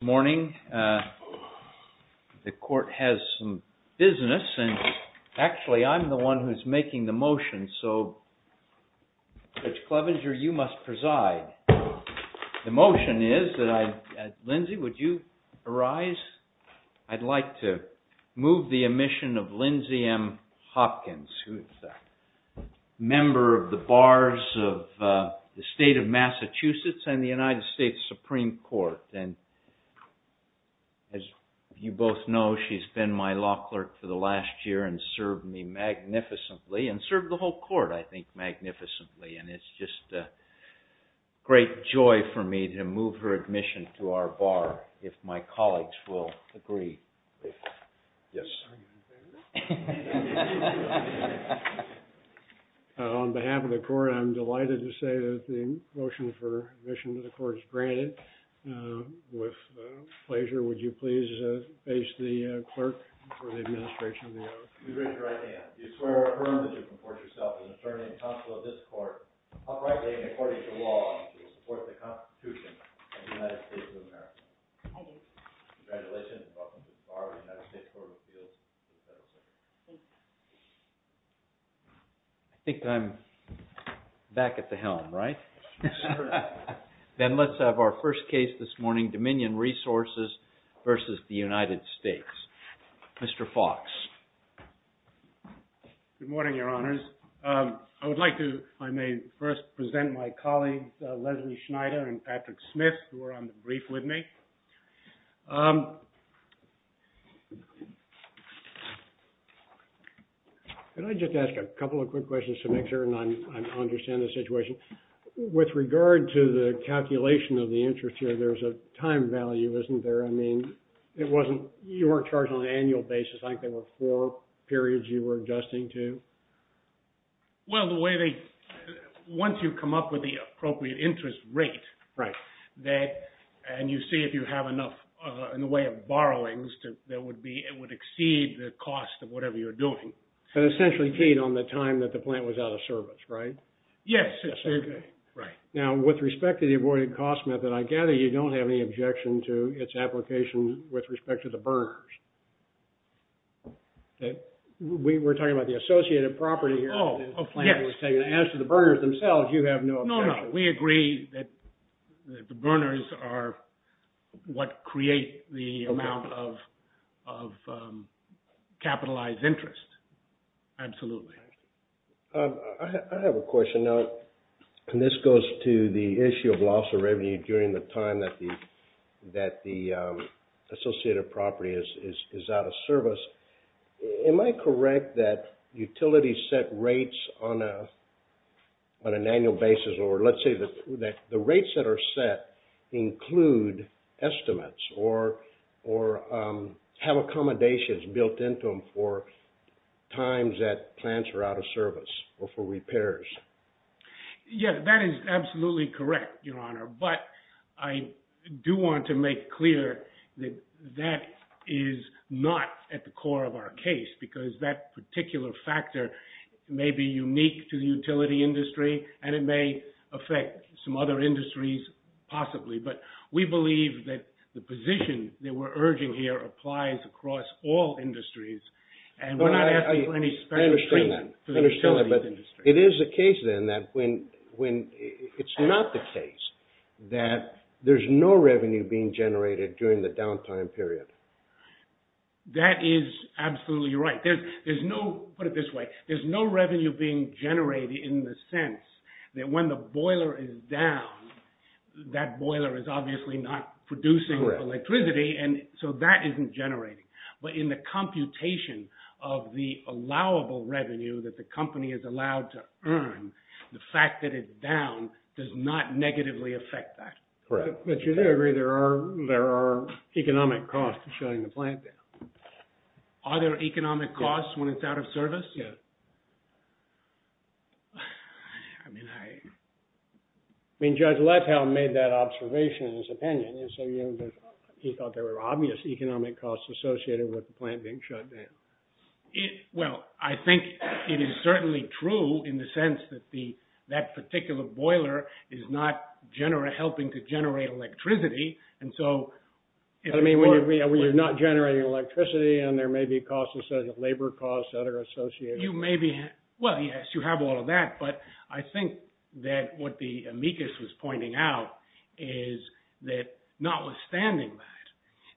Morning. The court has some business and actually I'm the one who's making the motion, so Rich Clevenger, you must preside. The motion is that I, Lindsay, would you arise? I'd like to move the admission of Lindsay M. Hopkins, who's a member of the bars of the state of Massachusetts and the United States Supreme Court. And as you both know, she's been my law clerk for the last year and served me magnificently and served the whole court, I think, magnificently. And it's just great joy for me to move her admission to our bar, if my colleagues will agree. Please. Yes. On behalf of the court, I'm delighted to say that the motion for admission to the court is granted. With pleasure, would you please face the clerk for the administration of the oath? You raise your right hand. Do you swear or affirm that you comport yourself as an attorney and counsel of this court, uprightly and according to law, to support the Constitution of the United States of America? I do. Congratulations. Welcome to the bar of the United States Court of Appeals. I think I'm back at the helm, right? Then let's have our first case this morning, Dominion Resources versus the United States. Mr. Fox. Good morning, your honors. I would like to, if I may, first present my colleagues, Leslie Schneider and Patrick Smith, who are on the brief with me. Can I just ask a couple of quick questions to make sure I understand the situation? With regard to the calculation of the interest here, there's a time value, isn't there? I mean, it wasn't your charge on an annual basis. I think there were four periods you were adjusting to. Well, once you come up with the appropriate interest rate, and you see if you have enough in the way of borrowings, it would exceed the cost of whatever you're doing. So essentially paid on the time that the plant was out of service, right? Yes. Now, with respect to the avoided cost method, I gather you don't have any objection to its application with respect to the burners. We're talking about the associated property here. Oh, yes. As to the burners themselves, you have no objection. No, no. We agree that the burners are what create the amount of capitalized interest. Absolutely. I have a question. Now, and this goes to the issue of loss of revenue during the time that the associated property is out of service. Am I correct that utilities set rates on an annual basis, or let's say that the rates that are set include estimates or have accommodations built into them for times that plants are out of service or for repairs? Yeah, that is absolutely correct, Your Honor. But I do want to make clear that that is not at the core of our case, because that particular factor may be unique to the utility industry, and it may affect some other industries, possibly. But we believe that the position that we're urging here applies across all industries, and we're not asking for any understatement. But it is the case, then, that when it's not the case, that there's no revenue being generated during the downtime period. That is absolutely right. There's no, put it this way, there's no revenue being generated in the sense that when the boiler is down, that boiler is obviously not producing electricity, and so that isn't generating. But in the computation of the allowable revenue that the company is allowed to earn, the fact that it's down does not negatively affect that. Correct. But you do agree there are economic costs to shutting the plant down. Are there economic costs when it's out of service? Yeah. I mean, I... I mean, Judge Lettell made that observation in his opinion, and so he thought there were economic costs associated with the plant being shut down. Well, I think it is certainly true in the sense that that particular boiler is not helping to generate electricity, and so... I mean, when you're not generating electricity, and there may be costs, instead of labor costs that are associated... You may be... Well, yes, you have all of that, but I think that what the amicus was pointing out is that, notwithstanding that,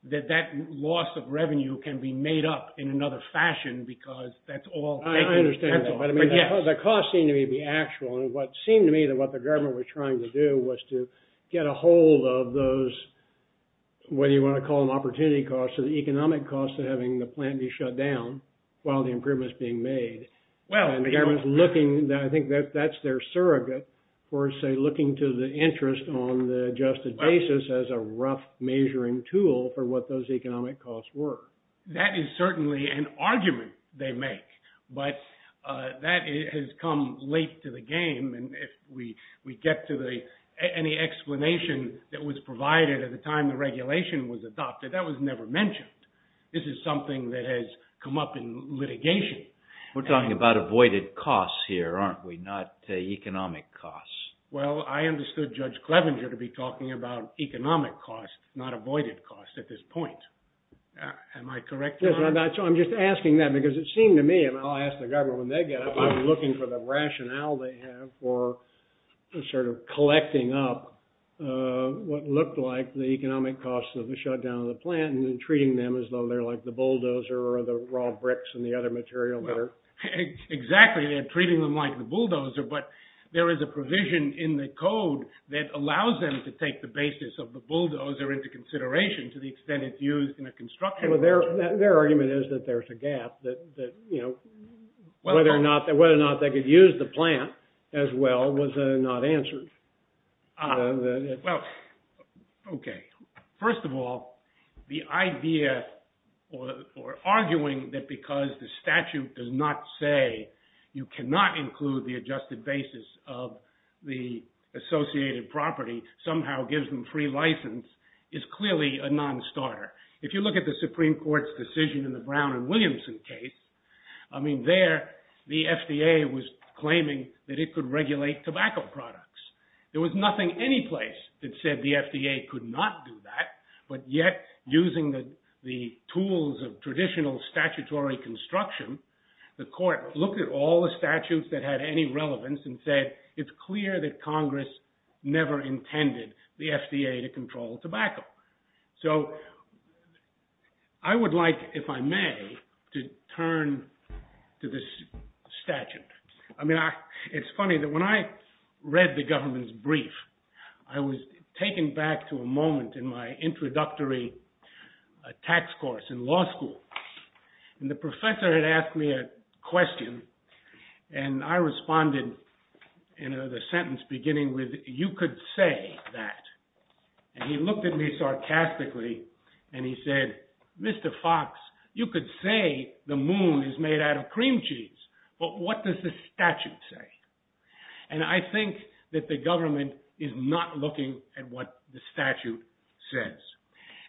that that loss of revenue can be made up in another fashion, because that's all... I understand that, but I mean, the cost seemed to me to be actual, and what seemed to me that what the government was trying to do was to get a hold of those, what do you want to call them, opportunity costs, or the economic costs of having the plant be shut down while the improvement's being made. Well, the government's looking... I think that that's their surrogate for, say, looking to the interest on the adjusted basis as a rough measuring tool for what those economic costs were. That is certainly an argument they make, but that has come late to the game, and if we get to any explanation that was provided at the time the regulation was adopted, that was never mentioned. This is something that has come up in litigation. We're talking about avoided costs here, aren't we, not economic costs. Well, I understood Judge Clevenger to be talking about economic costs, not avoided costs at this point. Am I correct? Yes, I'm just asking that, because it seemed to me, and I'll ask the government when they get up, I'm looking for the rationale they have for sort of collecting up what looked like the economic costs of the shutdown of the plant, and then treating them as though they're like the bulldozer, or the raw bricks and the other material that are... Exactly, they're treating them like the bulldozer, but there is a provision in the code that allows them to take the basis of the bulldozer into consideration to the extent it's used in a construction... Well, their argument is that there's a gap, that whether or not they could use the plant as well was not answered. Well, okay, first of all, the idea, or arguing that because the statute does not say you cannot include the adjusted basis of the associated property, somehow gives them free license, is clearly a non-starter. If you look at the Supreme Court's decision in the Brown and Williamson case, I mean, there, the FDA was claiming that it could regulate tobacco products. There was nothing anyplace that said the FDA could not do that, but yet, using the tools of traditional statutory construction, the court looked at all the statutes that had any relevance and said, it's clear that Congress never intended the FDA to control tobacco. So, I would like, if I may, to turn to this statute. I mean, it's funny that when I read the government's brief, I was taken back to a moment in my introductory tax course in law school, and the professor had asked me a question, and I responded in the sentence beginning with, you could say that, and he looked at me sarcastically, and he said, Mr. Fox, you could say the moon is made out of cream cheese, but what does the statute say? And I think that the government is not looking at what the statute says.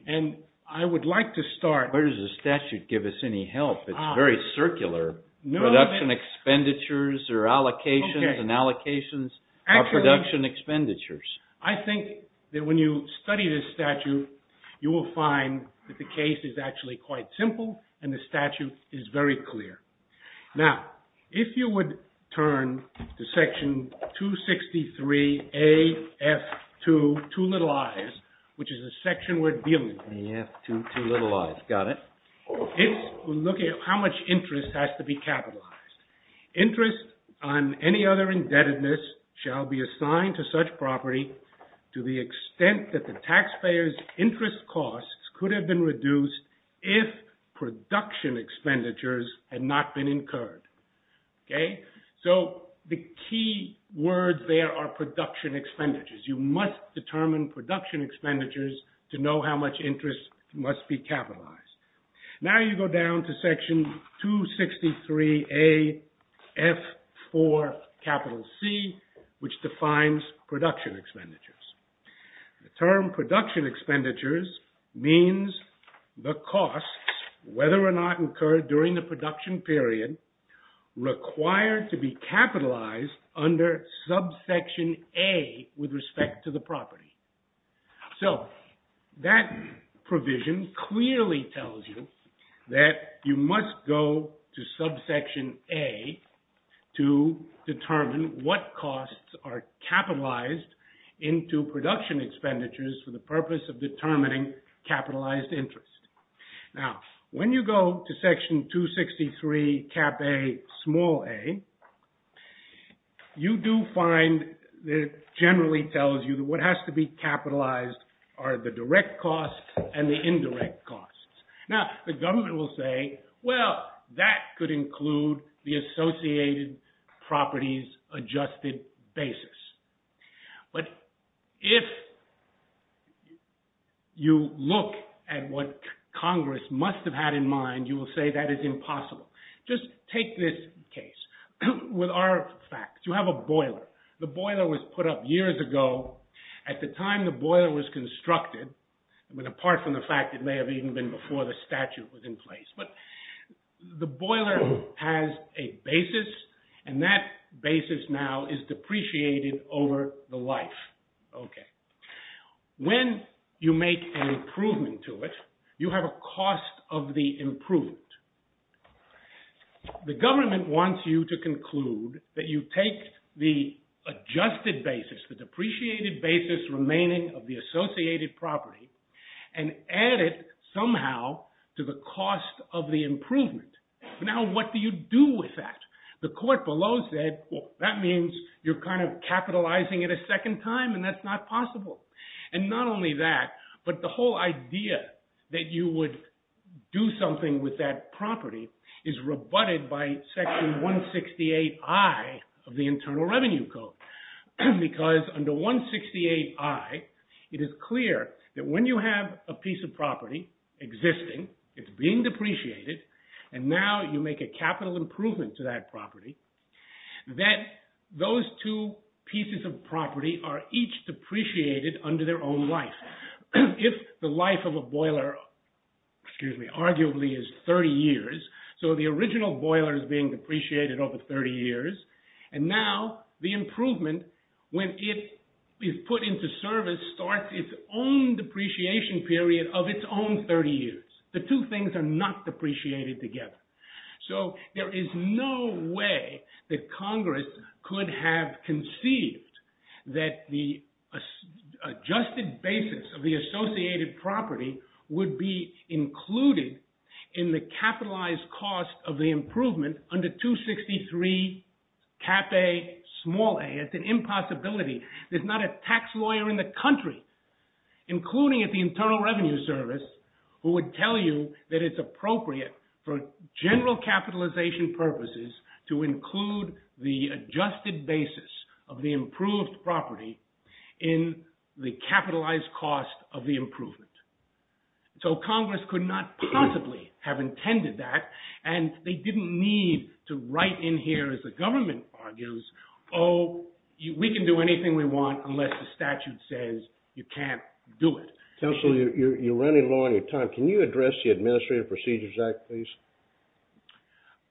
And I would like to start... Where does the statute give us any help? It's very circular. Production expenditures or allocations and allocations are production expenditures. I think that when you study this statute, you will find that the case is actually quite simple, and the statute is very clear. Now, if you would turn to section 263 A.F. 2, two little i's, which is a section we're dealing with. A.F. 2, two little i's, got it. It's looking at how much interest has to be capitalized. Interest on any other indebtedness shall be assigned to such property to the extent that the taxpayer's interest costs could have been reduced if production expenditures had not been incurred. So the key words there are production expenditures. You must determine production expenditures to know how much interest must be capitalized. Now you go down to section 263 A.F. 4, capital C, which defines production expenditures. The term production expenditures means the costs, whether or not incurred during the production period, required to be capitalized under subsection A with respect to the property. So that provision clearly tells you that you must go to subsection A to determine what costs are capitalized into production expenditures for the purpose of determining capitalized interest. Now, when you go to section 263 cap A, small a, you do find that it generally tells you that what has to be capitalized are the direct costs and the indirect costs. Now, the government will say, well, that could include the associated properties adjusted basis. But if you look at what Congress must have had in mind, you will say that is impossible. Just take this case with our facts. You have a boiler. The boiler was put up years ago. At the time the boiler was constructed, I mean, apart from the fact it may have even been before the statute was in place. But the boiler has a basis, and that basis now is depreciated over the life. When you make an improvement to it, you have a cost of the improved. The government wants you to conclude that you take the adjusted basis, the depreciated basis remaining of the associated property, and add it somehow to the cost of the improvement. Now, what do you do with that? The court below said, that means you're kind of capitalizing it a second time, and that's not possible. And not only that, but the whole idea that you would do something with that property is rebutted by section 168 I of the Internal Revenue Code. Because under 168 I, it is clear that when you have a piece of property existing, it's being depreciated, and now you make a capital improvement to that property, that those two pieces of property are each depreciated under their own life. If the life of a boiler, excuse me, arguably is 30 years, so the original boiler is being depreciated over 30 years, and now the improvement, when it is put into service, starts its own depreciation period of its own 30 years. The two things are not depreciated together. So there is no way that Congress could have conceived that the adjusted basis of the associated property would be included in the capitalized cost of the improvement under 263 Cap A Small A. It's an impossibility. There's not a tax lawyer in the country, including at the Internal Revenue Service, who would tell you that it's appropriate for general capitalization purposes to include the adjusted basis of the improved property in the capitalized cost of the improvement. So Congress could not possibly have intended that, and they didn't need to write in here, as the government argues, oh, we can do anything we want unless the statute says you can't do it. Counselor, you're running low on your time. Can you address the Administrative Procedures Act, please?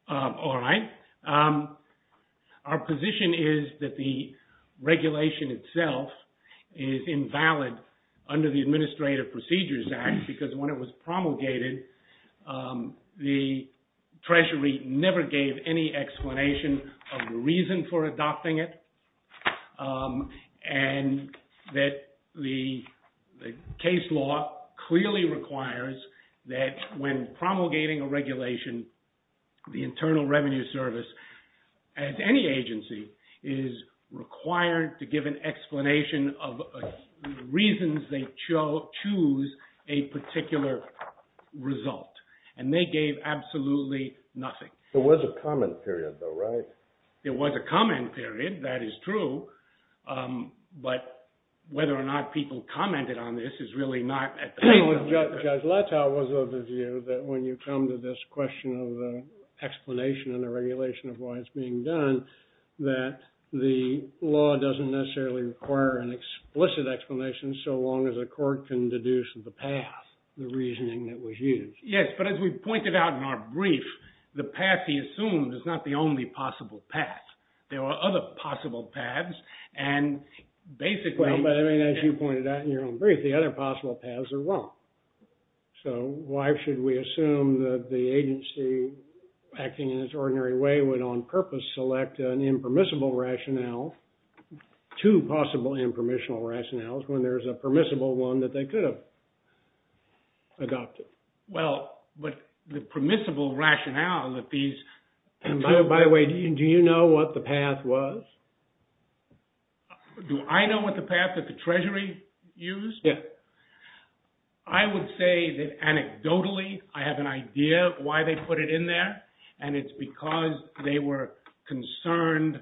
All right. Our position is that the regulation itself is invalid under the Administrative Procedures Act, because when it was promulgated, the Treasury never gave any explanation of the reason for adopting it, and that the case law clearly requires that when promulgating a regulation, the Internal Revenue Service, as any agency, is required to give an explanation of the reasons they choose a particular result, and they gave absolutely nothing. There was a comment period, though, right? There was a comment period, that is true, but whether or not people commented on this is really not at the moment. Judge Latow was of the view that when you come to this question of the explanation and the regulation of why it's being done, that the law doesn't necessarily require an explicit explanation so long as a court can deduce the path, the reasoning that was used. Yes, but as we pointed out in our brief, the path he assumed is not the only possible path. There are other possible paths, and basically... Well, but I mean, as you pointed out in your own brief, the other possible paths are wrong. So why should we assume that the agency acting in its ordinary way would on purpose select an impermissible rationale to possible impermissible rationales when there's a permissible one that they could have adopted? Well, but the permissible rationale that these... By the way, do you know what the path was? Do I know what the path that the Treasury used? Yeah. I would say that anecdotally, I have an idea of why they put it in there, and it's because they were concerned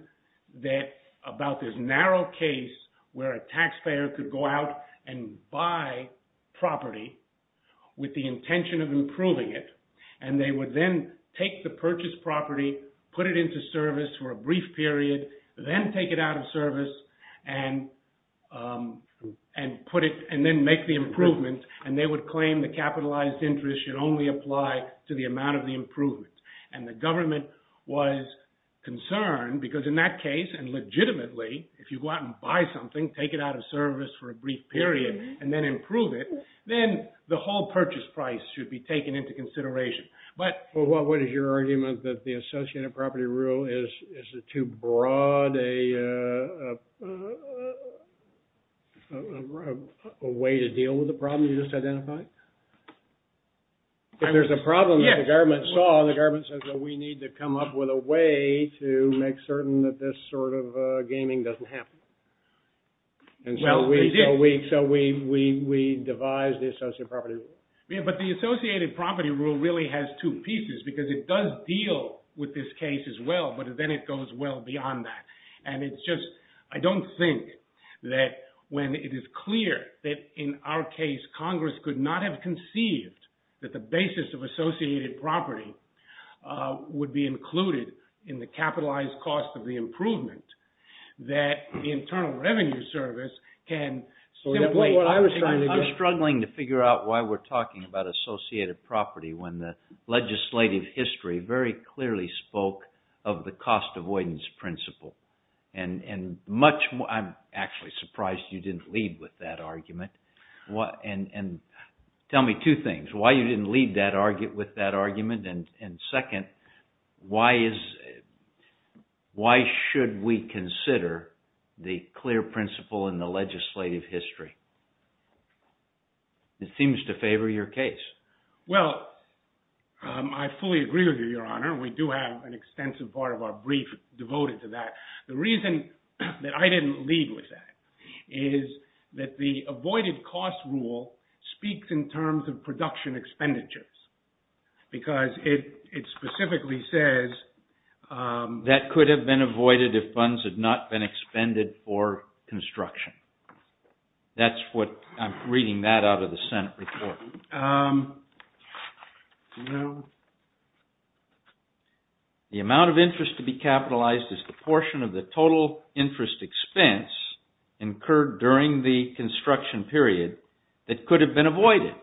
that about this narrow case where a taxpayer could go out and buy property with the intention of improving it, and they would then take the purchased property, put it into service for a brief period, then take it out of service, and put it and then make the improvement, and they would claim the capitalized interest should only apply to the amount of the improvement. And the government was concerned because in that case, and legitimately, if you go out and buy something, take it out of service for a brief period, and then improve it, then the whole purchase price should be taken into consideration. But what is your argument that the Associated Property Rule is too broad a way to deal with the problem you just identified? If there's a problem that the government saw, the government says that we need to come up with a way to make certain that this sort of gaming doesn't happen. And so we devise the Associated Property Rule. Yeah, but the Associated Property Rule really has two pieces, because it does deal with this case as well, but then it goes well beyond that. And it's just, I don't think that when it is clear that in our case, Congress could not have conceived that the basis of associated property would be included in the capitalized cost of the improvement, that the Internal Revenue Service can... I'm struggling to figure out why we're talking about associated property when the legislative history very clearly spoke of the cost avoidance principle. And I'm actually surprised you didn't lead with that argument. And tell me two things, why you didn't lead with that argument, and second, why should we consider the clear principle in the legislative history? It seems to favor your case. Well, I fully agree with you, Your Honor. We do have an extensive part of our brief devoted to that. The reason that I didn't lead with that is that the avoided cost rule speaks in terms of production expenditures, because it specifically says that could have been avoided if funds had not been expended for construction. That's what I'm reading that out of the Senate report. The amount of interest to be capitalized is the portion of the total interest expense incurred during the construction period that could have been avoided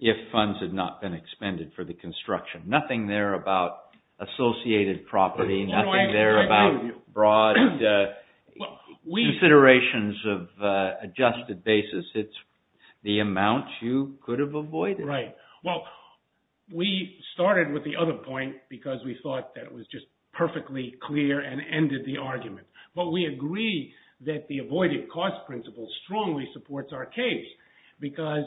if funds had not been expended for the construction. Nothing there about associated property, nothing there about broad considerations of adjusted basis. It's the amount you could have avoided. Right. Well, we started with the other point because we thought that it was just perfectly clear and ended the argument. But we agree that the avoided cost principle strongly supports our case because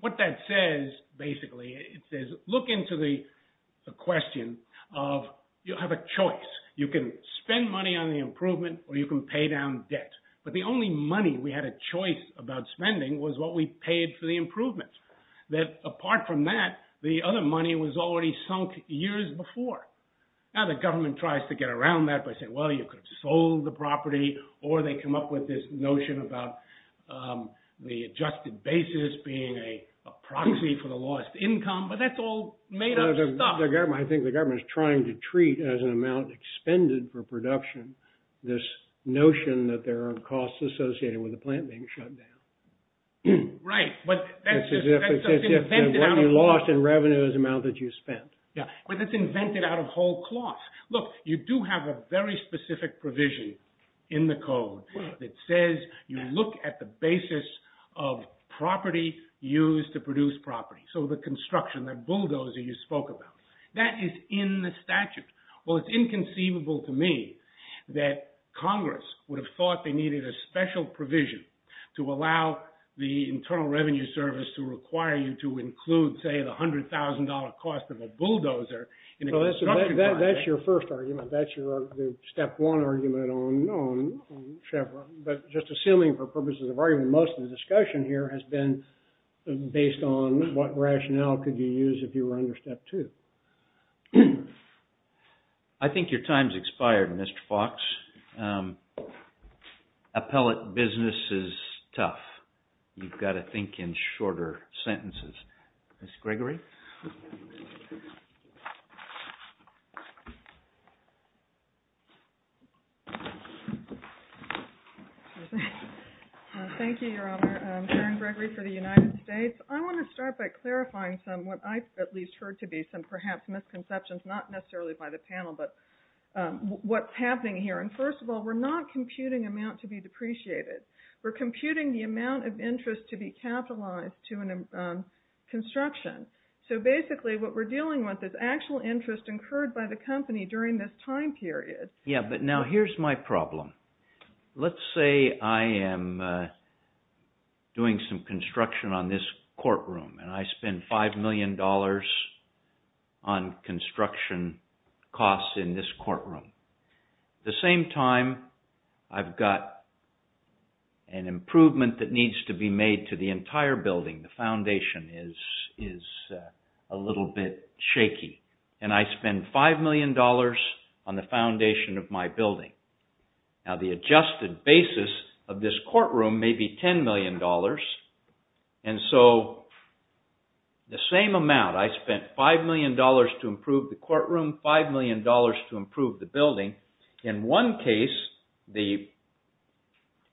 what that says, basically, it says look into the question of you have a choice. You can spend money on the improvement or you can pay down debt. But the only money we had a choice about spending was what we paid for the improvements. That apart from that, the other money was already sunk years before. Now the government tries to get around that by saying, well, you could have sold the property or they come up with this notion about the adjusted basis being a proxy for the lost income. But that's all made up stuff. I think the government is trying to treat as an amount expended for production this notion that there are costs associated with the plant being shut down. Right. But that's just invented out of cloth. When you lost in revenue is the amount that you spent. Yeah, but that's invented out of whole cloth. Look, you do have a very specific provision in the code that says you look at the basis of property used to produce property. So the construction, that bulldozer you spoke about, that is in the statute. Well, it's inconceivable to me that Congress would have thought they needed a special provision to allow the Internal Revenue Service to require you to include, say, the $100,000 cost of a bulldozer. That's your first argument. That's your step one argument on Chevron. But just assuming for purposes of argument, most of the discussion here has been based on what rationale could you use if you were under step two. I think your time's expired, Mr. Fox. Appellate business is tough. You've got to think in shorter sentences. Ms. Gregory? Thank you, Your Honor. I'm Karen Gregory for the United States. I want to start by clarifying some, what I've at least heard to be, some perhaps misconceptions, not necessarily by the panel, but what's happening here. And first of all, we're not computing amount to be depreciated. We're computing the amount of interest to be capitalized to a construction. is actual interest incurred by the company during this time period. And we're not calculating the amount of interest Yeah, but now here's my problem. Let's say I am doing some construction on this courtroom and I spend $5 million on construction costs in this courtroom. The same time I've got an improvement that needs to be made to the entire building. The foundation is a little bit shaky and I spend $5 million on the foundation of my building. Now the adjusted basis of this courtroom may be $10 million. And so the same amount, I spent $5 million to improve the courtroom, $5 million to improve the building. In one case, the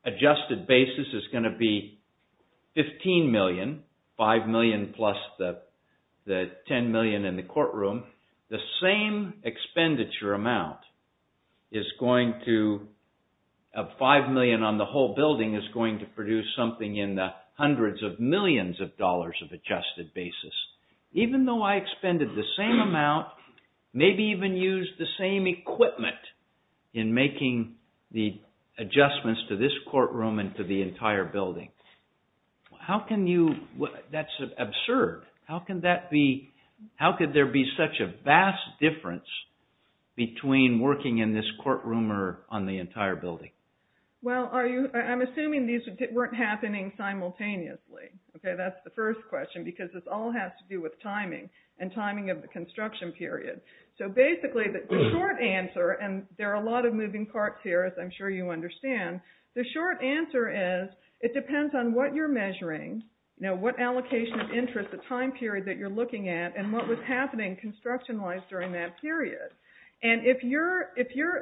adjusted basis is going to be 15 million, $5 million plus the $10 million in the courtroom. The same expenditure amount is going to, $5 million on the whole building is going to produce something in the hundreds of millions of dollars of adjusted basis. Even though I expended the same amount, maybe even use the same equipment in making the adjustments to this courtroom and to the entire building. How can you, that's absurd. How could there be such a vast difference between working in this courtroom or on the entire building? Well, I'm assuming these weren't happening simultaneously. Okay, that's the first question because this all has to do with timing and timing of the construction period. So basically the short answer, and there are a lot of moving parts here as I'm sure you understand. The short answer is it depends on what you're measuring. Now, what allocation of interest, the time period that you're looking at and what was happening construction-wise during that period. And if your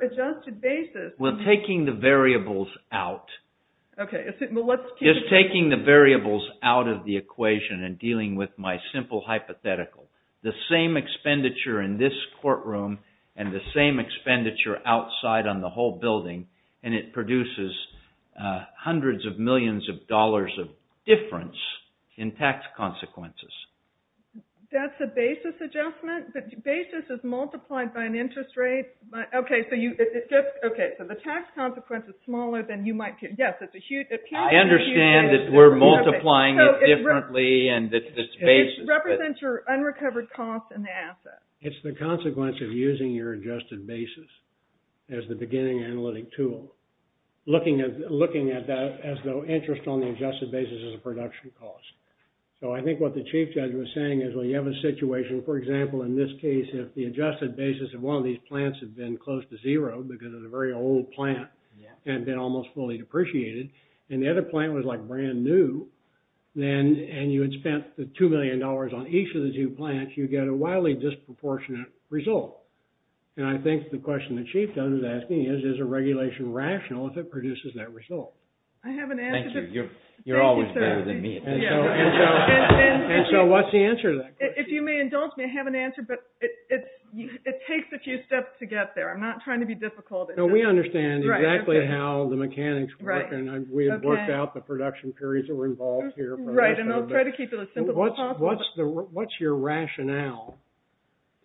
adjusted basis... We're taking the variables out. Okay, well let's... Just taking the variables out of the equation and dealing with my simple hypothetical. The same expenditure in this courtroom and the same expenditure outside on the whole building and it produces hundreds of millions of dollars of difference in tax consequences. That's a basis adjustment? The basis is multiplied by an interest rate. Okay, so you... Okay, so the tax consequence is smaller than you might... Yes, it's a huge... I understand that we're multiplying it differently and that's the basis. It represents your unrecovered costs and the assets. It's the consequence of using your adjusted basis as the beginning analytic tool. Looking at that as though interest on the adjusted basis is a production cost. So I think what the chief judge was saying is, well, you have a situation, for example, in this case, if the adjusted basis of one of these plants had been close to zero because of the very old plant and been almost fully depreciated and the other plant was like brand new and you had spent the $2 million on each of the two plants, you get a wildly disproportionate result. And I think the question the chief judge is asking is, is a regulation rational if it produces that result? I have an answer... Thank you, you're always better than me. And so what's the answer to that question? If you may indulge me, I have an answer, but it takes a few steps to get there. I'm not trying to be difficult. We understand exactly how the mechanics work and we have worked out the production periods that were involved here. Right, and I'll try to keep it as simple as possible. What's your rationale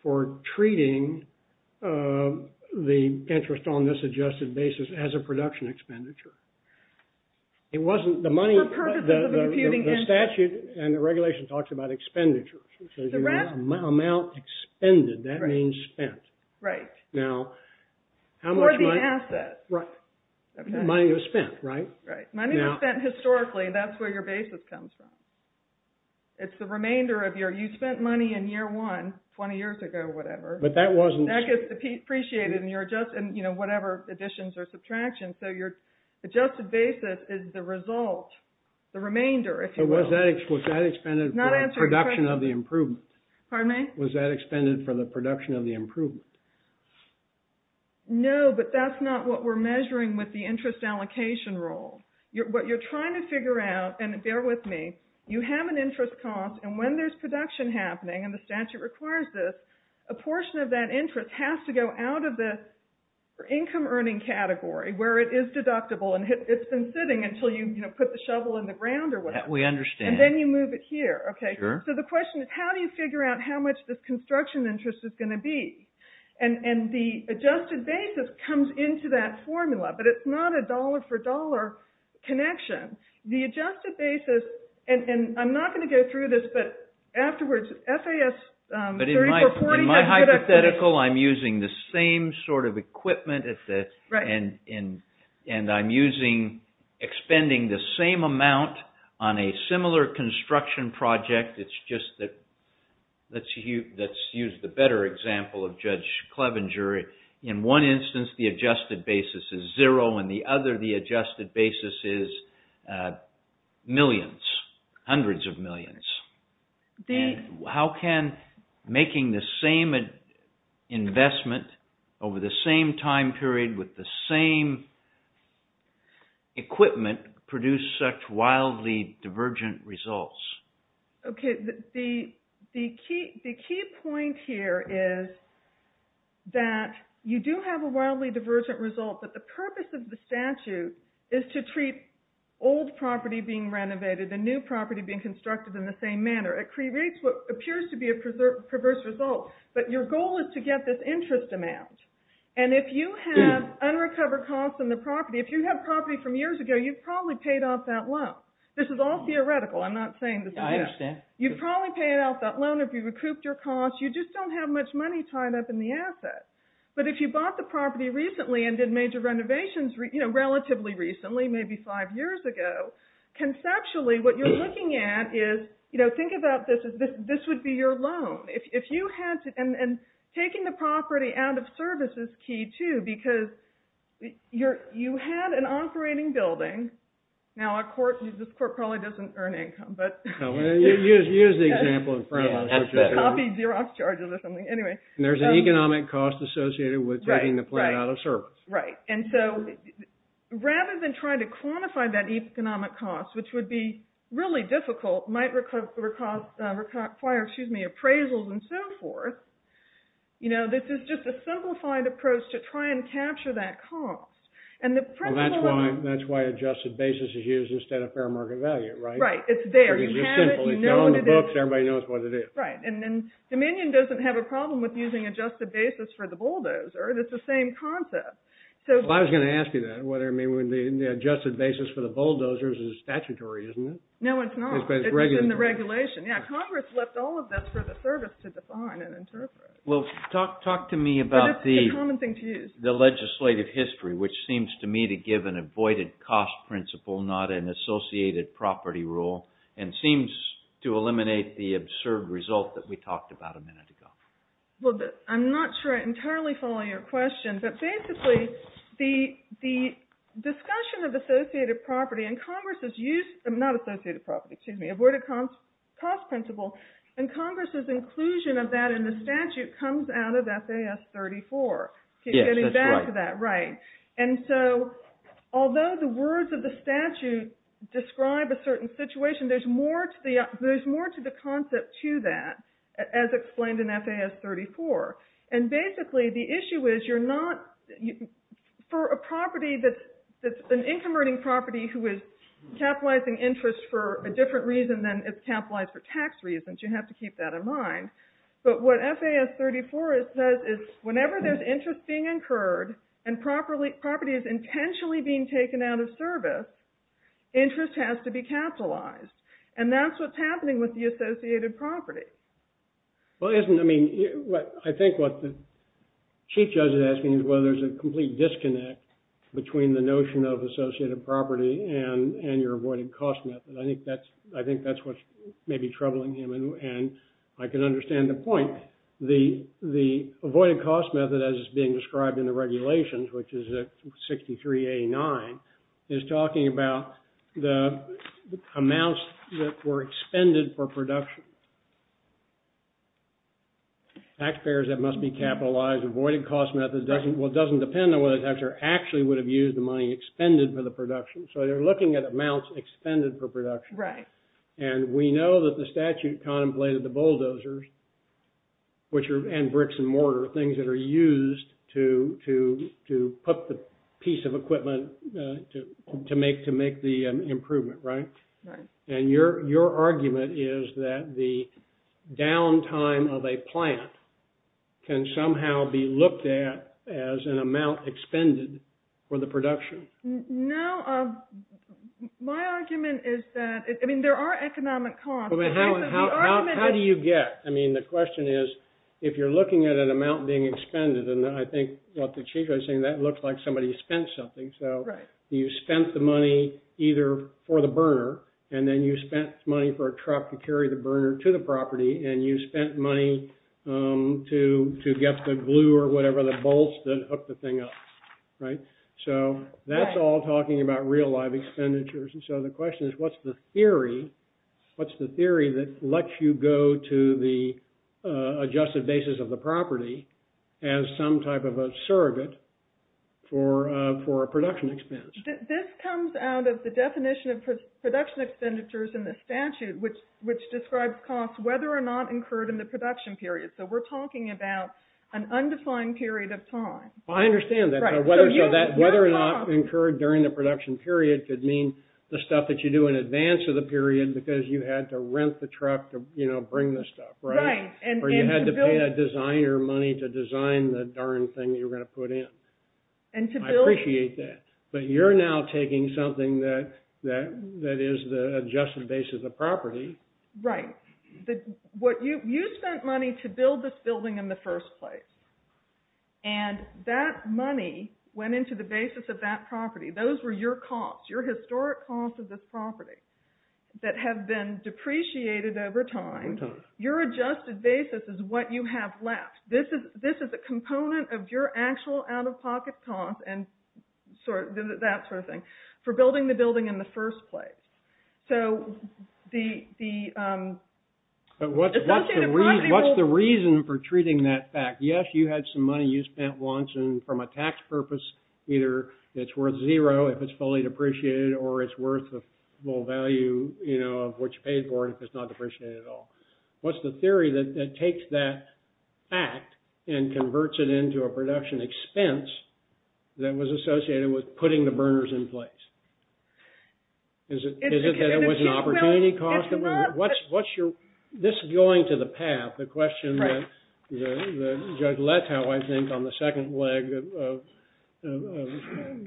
for treating the interest on this adjusted basis as a production expenditure? It wasn't the money... For purposes of imputing interest. The statute and the regulation talks about expenditures. Amount expended, that means spent. Right. Now, how much money... For the asset. Right. Money was spent, right? Right, money was spent historically and that's where your basis comes from. It's the remainder of your... You spent money in year one, 20 years ago, whatever. But that wasn't... That gets appreciated in your adjusted... You know, whatever additions or subtractions. So your adjusted basis is the result, the remainder, if you will. Was that expended for the production of the improvement? Pardon me? Was that expended for the production of the improvement? No, but that's not what we're measuring with the interest allocation rule. What you're trying to figure out, and bear with me, you have an interest cost and when there's production happening, and the statute requires this, a portion of that interest has to go out of this income earning category where it is deductible and it's been sitting until you, you know, put the shovel in the ground or whatever. We understand. And then you move it here, okay? Sure. So the question is, how do you figure out how much this construction interest is going to be? And the adjusted basis comes into that formula, but it's not a dollar for dollar connection. The adjusted basis, and I'm not going to go through this, but afterwards, FAS 30 for 40. In my hypothetical, I'm using the same sort of equipment and I'm using, expending the same amount on a similar construction project. It's just that, let's use the better example of Judge Clevenger. In one instance, the adjusted basis is zero, and the other, the adjusted basis is millions, hundreds of millions. And how can making the same investment over the same time period with the same equipment produce such wildly divergent results? Okay, the key point here is that you do have a wildly divergent result, but the purpose of the statute is to treat old property being renovated and new property being constructed in the same manner. It creates what appears to be a perverse result, but your goal is to get this interest amount. And if you have unrecovered costs on the property, if you have property from years ago, you've probably paid off that loan. This is all theoretical. I'm not saying this is it. I understand. You've probably paid off that loan if you recouped your costs. You just don't have much money tied up in the asset. But if you bought the property recently and did major renovations relatively recently, maybe five years ago, conceptually, what you're looking at is, you know, think about this as this would be your loan. If you had to, and taking the property out of service is key too, because you had an operating building. Now, this court probably doesn't earn income, but... No, use the example in front of us. Copy Xerox charges or something. Anyway. There's an economic cost associated with taking the plant out of service. Right. And so rather than trying to quantify that economic cost, which would be really difficult, might require, excuse me, appraisals and so forth. You know, this is just a simplified approach to try and capture that cost. And the principle... Well, that's why adjusted basis is used instead of fair market value, right? Right. It's there. It's simple. It's all in the books. Everybody knows what it is. Right. And then Dominion doesn't have a problem with using adjusted basis for the bulldozer. It's the same concept. Well, I was going to ask you that, whether the adjusted basis for the bulldozers is statutory, isn't it? No, it's not. It's in the regulation. Yeah, Congress left all of this for the service to define and interpret. Well, talk to me about the legislative history, which seems to me to give an avoided cost principle, not an associated property rule, and seems to eliminate the absurd result that we talked about a minute ago. I'm not sure I entirely follow your question. But basically, the discussion of associated property and Congress's use... Not associated property, excuse me, avoided cost principle, and Congress's inclusion of that in the statute comes out of FAS 34. Yes, that's right. Getting back to that, right. And so, although the words of the statute describe a certain situation, there's more to the concept to that, as explained in FAS 34. And basically, the issue is, for a property that's an income earning property who is capitalizing interest for a different reason than it's capitalized for tax reasons, you have to keep that in mind. But what FAS 34 says is, whenever there's interest being incurred and property is intentionally being taken out of service, interest has to be capitalized. And that's what's happening with the associated property. Well, isn't... I mean, I think what the chief judge is asking is whether there's a complete disconnect between the notion of associated property and your avoided cost method. I think that's what's maybe troubling him. And I can understand the point. The avoided cost method, as is being described in the regulations, which is 63A9, is talking about the amounts that were expended for production. Taxpayers that must be capitalized, avoided cost method doesn't... Well, it doesn't depend on whether the taxpayer actually would have used the money expended for the production. So they're looking at amounts expended for production. Right. And we know that the statute contemplated the bulldozers, which are... and bricks and mortar, things that are used to put the piece of equipment to make the improvement, right? Right. And your argument is that the downtime of a plant can somehow be looked at as an amount expended for the production. No, my argument is that... I mean, there are economic costs. How do you get... I mean, the question is, if you're looking at an amount being expended, and I think what the chief judge is saying, that looks like somebody spent something. So you spent the money either for the burner, and then you spent money for a truck to carry the burner to the property, and you spent money to get the glue or whatever, the bolts that hook the thing up, right? So that's all talking about real life expenditures. And so the question is, what's the theory? What's the theory that lets you go to the adjusted basis of the property as some type of a surrogate for a production expense? This comes out of the definition of production expenditures in the statute, which describes costs, whether or not incurred in the production period. So we're talking about an undefined period of time. Well, I understand that. So whether or not incurred during the production period could mean the stuff that you do in advance of the period, because you had to rent the truck to bring the stuff, right? Or you had to pay that designer money to design the darn thing that you're going to put in. I appreciate that. But you're now taking something that is the adjusted basis of property. Right. You spent money to build this building in the first place. And that money went into the basis of that property. Those were your costs, your historic costs of this property that have been depreciated over time. Your adjusted basis is what you have left. This is a component of your actual out-of-pocket costs and that sort of thing. For building the building in the first place. So the associated property will- What's the reason for treating that fact? Yes, you had some money you spent once. And from a tax purpose, either it's worth zero if it's fully depreciated or it's worth the full value of what you paid for and if it's not depreciated at all. What's the theory that takes that fact and converts it into a production expense that was associated with putting the burners in place? Is it that it was an opportunity cost? This is going to the path. The question that Judge Lett how I think on the second leg,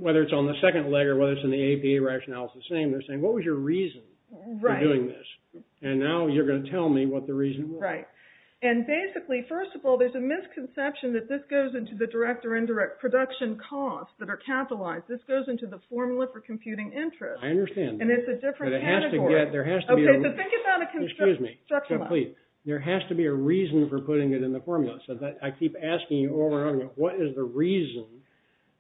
whether it's on the second leg or whether it's in the APA rationale, it's the same. They're saying, what was your reason for doing this? And now you're going to tell me what the reason was. Right. And basically, first of all, there's a misconception that this goes into the direct or indirect production costs that are capitalized. This goes into the formula for computing interest. I understand. And it's a different category. There has to be a reason for putting it in the formula. So I keep asking you over and over, what is the reason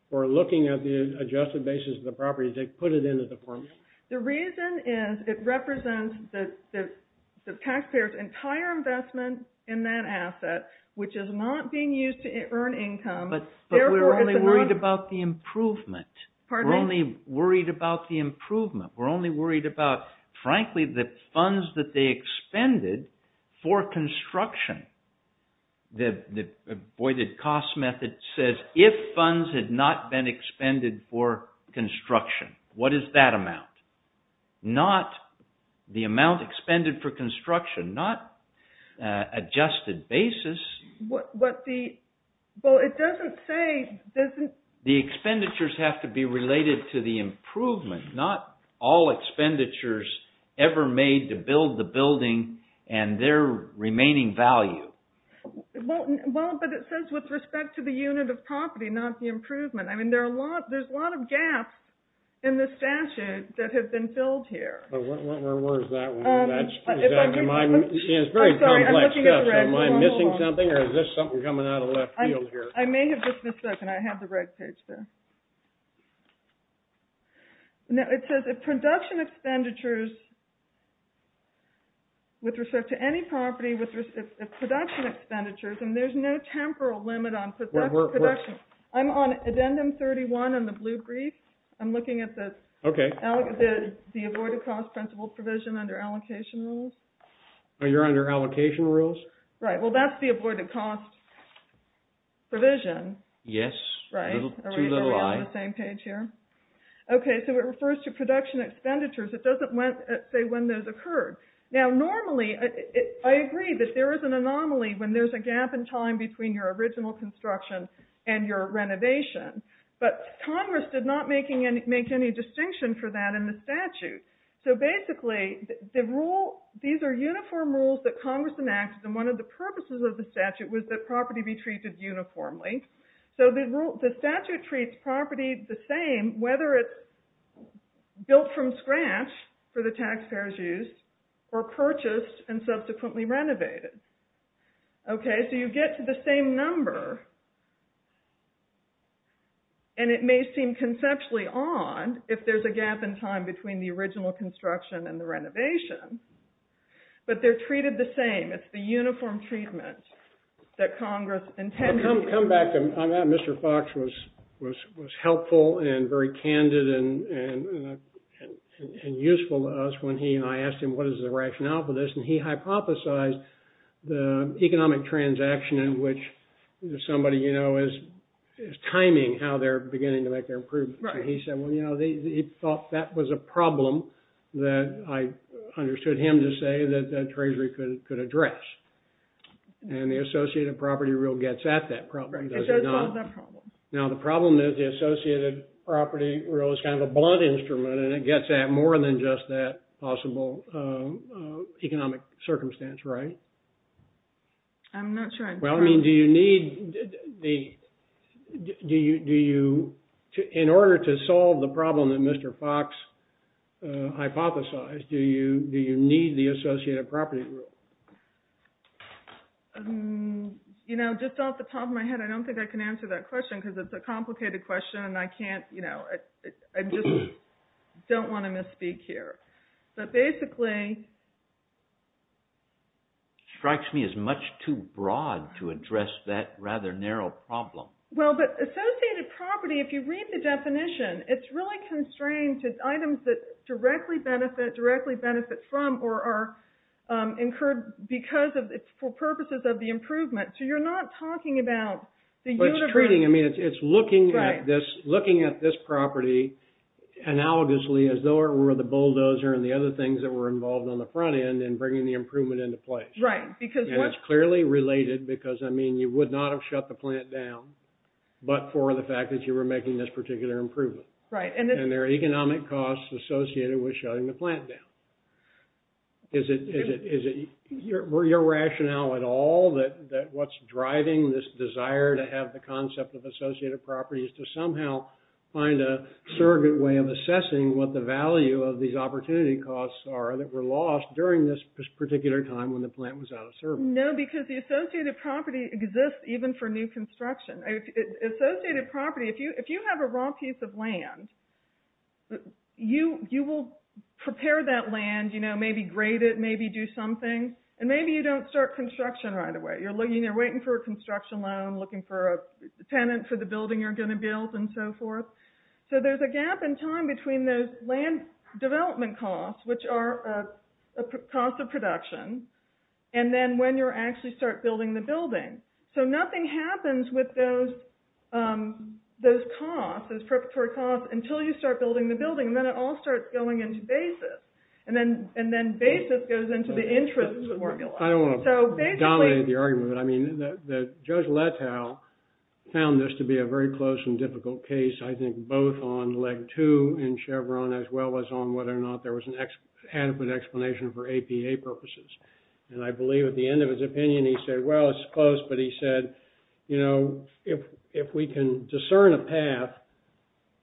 for looking at the adjusted basis of the properties that put it into the formula? The reason is it represents the taxpayer's entire investment in that asset, which is not being used to earn income. But we're only worried about the improvement. Pardon me? We're only worried about the improvement. We're only worried about, frankly, the funds that they expended for construction. The avoided cost method says, if funds had not been expended for construction, what is that amount? Not the amount expended for construction, not adjusted basis. Well, it doesn't say, doesn't... The expenditures have to be related to the improvement, not all expenditures ever made to build the building and their remaining value. Well, but it says with respect to the unit of property, not the improvement. I mean, there's a lot of gaps in the statute that have been filled here. Where is that one? That's exactly mine. It's very complex stuff. Am I missing something, or is this something coming out of left field here? I may have just missed something. I had the right page there. It says, if production expenditures, with respect to any property, with respect to production expenditures, and there's no temporal limit on production. I'm on addendum 31 on the blue brief. I'm looking at the... Okay. The avoided cost principle provision under allocation rules. Oh, you're under allocation rules? Right. Well, that's the avoided cost provision. Right. A little too little eye. Are we on the same page here? Okay, so it refers to production expenditures. It doesn't say when those occurred. Now, normally, I agree that there is an anomaly when there's a gap in time between your original construction and your renovation, but Congress did not make any distinction for that in the statute. So basically, these are uniform rules that Congress enacted, and one of the purposes of the statute was that property be treated uniformly. So the statute treats property the same, whether it's built from scratch for the taxpayer's use, or purchased and subsequently renovated. Okay, so you get to the same number, and it may seem conceptually odd if there's a gap in time between the original construction and the renovation, but they're treated the same. It's the uniform treatment that Congress intended. Come back to that. Mr. Fox was helpful and very candid and useful to us when he and I asked him, what is the rationale for this? And he hypothesized the economic transaction in which somebody is timing how they're beginning to make their improvements. Right. He thought that was a problem that I understood him to say that the Treasury could address. And the Associated Property Rule gets at that problem. It does solve that problem. Now, the problem is the Associated Property Rule is kind of a blunt instrument, and it gets at more than just that possible economic circumstance, right? I'm not sure. Well, I mean, do you need... In order to solve the problem that Mr. Fox hypothesized, do you need the Associated Property Rule? You know, just off the top of my head, I don't think I can answer that question because it's a complicated question and I can't, you know, I just don't want to misspeak here. But basically... Strikes me as much too broad to address that rather narrow problem. Well, but Associated Property, if you read the definition, it's really constrained to items that directly benefit from or are incurred because of, for purposes of the improvement. So you're not talking about the uniform... But it's treating, I mean, it's looking at this property analogously as though it were the bulldozer and the other things that were involved on the front end and bringing the improvement into place. Right, because... And it's clearly related because, I mean, you would not have shut the plant down, but for the fact that you were making this particular improvement. Right. And there are economic costs associated with shutting the plant down. Is it your rationale at all that what's driving this desire to have the concept of Associated Property is to somehow find a surrogate way of assessing what the value of these opportunity costs are that were lost during this particular time when the plant was out of service. No, because the Associated Property exists even for new construction. Associated Property, if you have a raw piece of land, you will prepare that land, you know, maybe grade it, maybe do something, and maybe you don't start construction right away. You're waiting for a construction loan, looking for a tenant for the building you're going to build and so forth. So there's a gap in time between those land development costs, which are a cost of production, and then when you actually start building the building. So nothing happens with those costs, those preparatory costs, until you start building the building, and then it all starts going into basis. And then basis goes into the interest formula. I don't want to dominate the argument, but I mean, Judge Letow found this to be a very close and difficult case, I think, both on leg two in Chevron, as well as on whether or not there was an adequate explanation for APA purposes. And I believe at the end of his opinion, he said, well, it's close, but he said, you know, if we can discern a path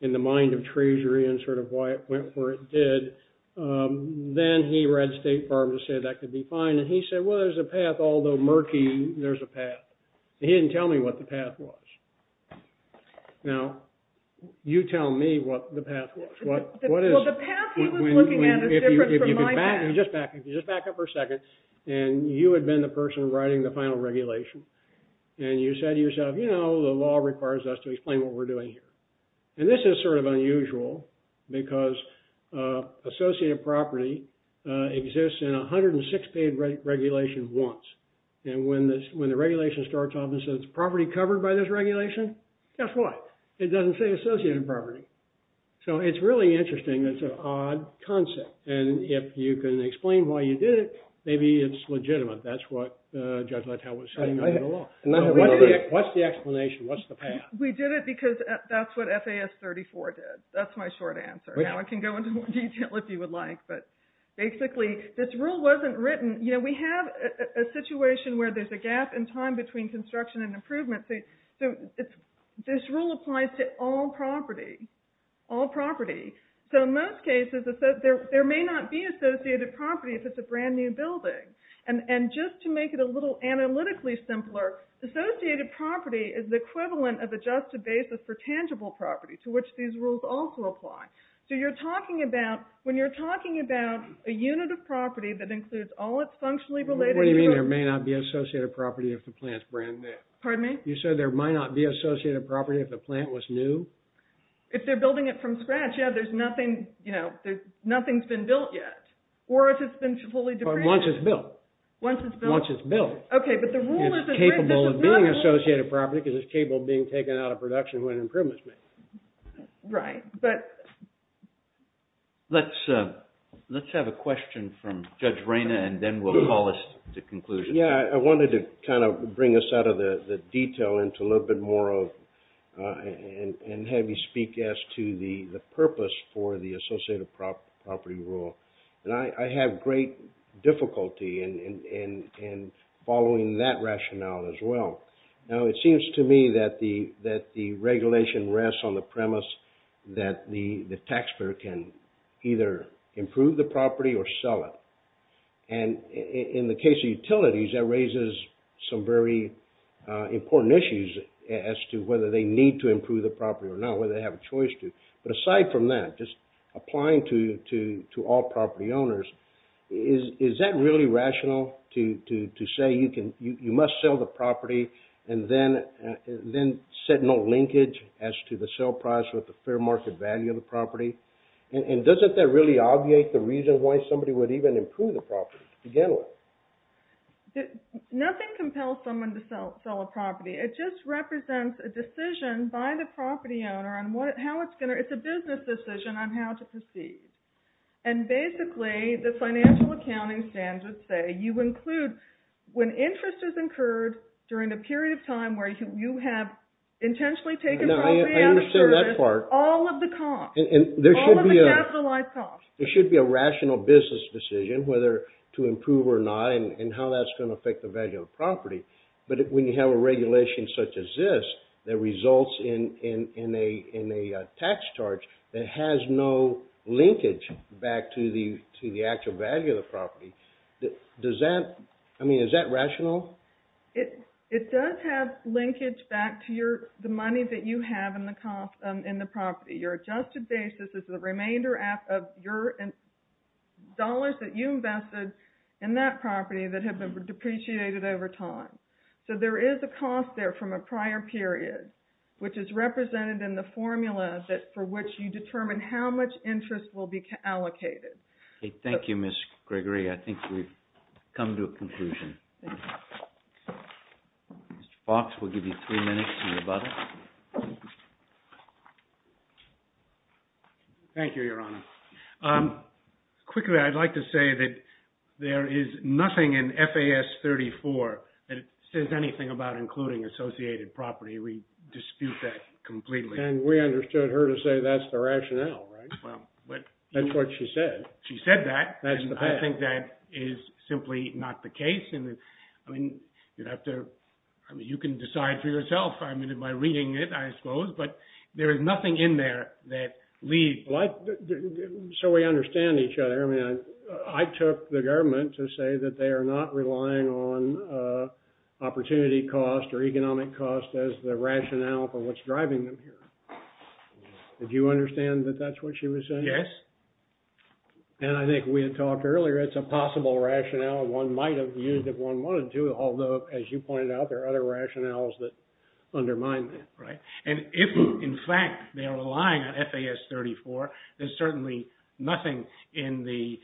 in the mind of Treasury and sort of why it went where it did, then he read State Farm to say that could be fine. And he said, well, there's a path, although murky, there's a path. He didn't tell me what the path was. Now, you tell me what the path was. Well, the path he was looking at is different from my path. Just back up for a second. And you had been the person writing the final regulation. And you said to yourself, you know, the law requires us to explain what we're doing here. And this is sort of unusual because associated property exists in 106 paid regulation once. And when the regulation starts off and says it's property covered by this regulation, guess what? It doesn't say associated property. So it's really interesting. It's an odd concept. And if you can explain why you did it, maybe it's legitimate. That's what Judge Letow was saying under the law. What's the explanation? What's the path? We did it because that's what FAS 34 did. That's my short answer. Now I can go into more detail if you would like. But basically, this rule wasn't written. You know, we have a situation where there's a gap in time between construction and improvement. So this rule applies to all property. All property. So in most cases, there may not be associated property if it's a brand new building. And just to make it a little analytically simpler, associated property is the equivalent of adjusted basis for tangible property, to which these rules also apply. So you're talking about, when you're talking about a unit of property that includes all its functionally related- What do you mean there may not be associated property if the plant's brand new? Pardon me? You said there might not be associated property if the plant was new? If they're building it from scratch, yeah, there's nothing, you know, nothing's been built yet. Or if it's been fully- Once it's built. Once it's built. It's capable of being associated property because it's capable of being taken out of production when an improvement's made. Right, but- Let's have a question from Judge Reyna, and then we'll call us to conclusion. Yeah, I wanted to kind of bring us out of the detail into a little bit more of, and have you speak as to the purpose for the associated property rule. And I have great difficulty in following that rationale as well. Now, it seems to me that the regulation rests on the premise that the taxpayer can either improve the property or sell it. And in the case of utilities, that raises some very important issues as to whether they need to improve the property or not, whether they have a choice to. But aside from that, just applying to all property owners, is that really rational to say you must sell the property and then set no linkage as to the sale price with the fair market value of the property? And doesn't that really obviate the reason why somebody would even improve the property to begin with? Nothing compels someone to sell a property. It just represents a decision by the property owner on how it's going to- It's a business decision on how to proceed. And basically, the financial accounting standards say you include when interest is incurred during a period of time where you have intentionally taken property out of service, all of the costs, all of the capitalized costs. There should be a rational business decision whether to improve or not and how that's going to affect the value of the property. But when you have a regulation such as this, that results in a tax charge that has no linkage back to the actual value of the property, does that- I mean, is that rational? It does have linkage back to the money that you have in the property. Your adjusted basis is the remainder of your dollars that you invested in that property that have been depreciated over time. So there is a cost there from a prior period which is represented in the formula for which you determine how much interest will be allocated. Okay, thank you, Ms. Gregory. I think we've come to a conclusion. Mr. Fox, we'll give you three minutes to rebut. Thank you, Your Honor. Quickly, I'd like to say that there is nothing in FAS 34 that says anything about including associated property. We dispute that completely. And we understood her to say that's the rationale, right? Well, but- That's what she said. She said that. That's the fact. I think that is simply not the case. I mean, you'd have to- I mean, you can decide for yourself, I mean, by reading it, I suppose. But there is nothing in there that leaves- So we understand each other. I mean, I took the government to say that they are not relying on opportunity cost or economic cost as the rationale for what's driving them here. Did you understand that that's what she was saying? Yes. And I think we had talked earlier, it's a possible rationale one might have used if one wanted to, although, as you pointed out, there are other rationales that undermine that, right? And if, in fact, they are relying on FAS 34, there's certainly nothing in the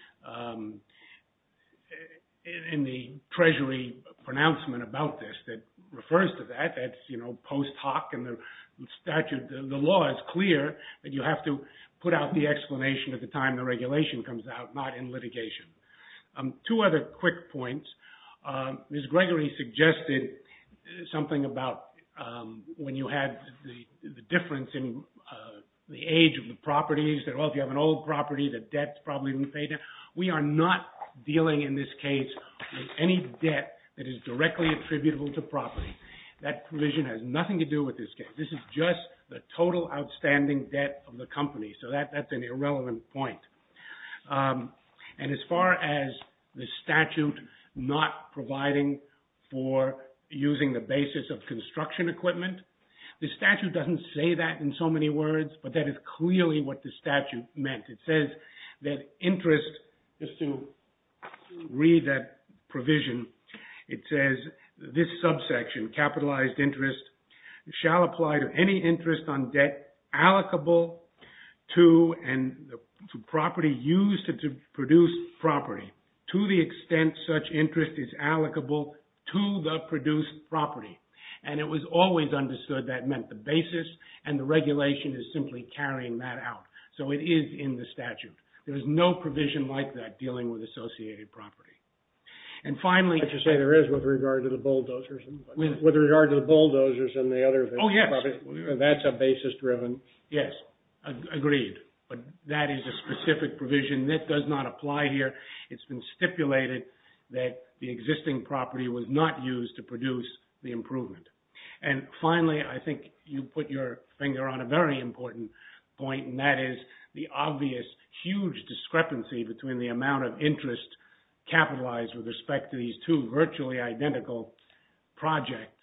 treasury pronouncement about this that refers to that. That's, you know, post hoc and the statute, the law is clear that you have to put out the explanation at the time the regulation comes out, not in litigation. Two other quick points. Ms. Gregory suggested something about when you had the difference in the age of the properties, that, well, if you have an old property, the debt's probably going to fade. We are not dealing, in this case, with any debt that is directly attributable to property. That provision has nothing to do with this case. This is just the total outstanding debt of the company. So that's an irrelevant point. And as far as the statute not providing for using the basis of construction equipment, the statute doesn't say that in so many words, but that is clearly what the statute meant. It says that interest, just to read that provision, it says this subsection, capitalized interest, shall apply to any interest on debt allocable to, and the property used to produce property to the extent such interest is allocable to the produced property. And it was always understood that meant the basis, and the regulation is simply carrying that out. So it is in the statute. There is no provision like that dealing with associated property. And finally, I should say there is with regard to the bulldozers. With regard to the bulldozers and the other things. Oh, yes. That's a basis driven. Yes. Agreed. But that is a specific provision that does not apply here. It's been stipulated that the existing property was not used to produce the improvement. And finally, I think you put your finger on a very important point, and that is the obvious huge discrepancy between the amount of interest capitalized with respect to these two virtually identical projects.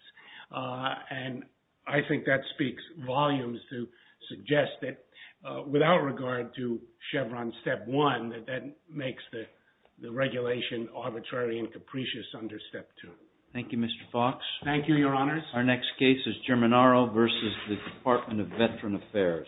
And I think that speaks volumes to suggest that without regard to Chevron Step 1, that that makes the regulation arbitrary and capricious under Step 2. Thank you, Mr. Fox. Thank you, Your Honors. Our next case is Germanaro versus the Department of Veteran Affairs.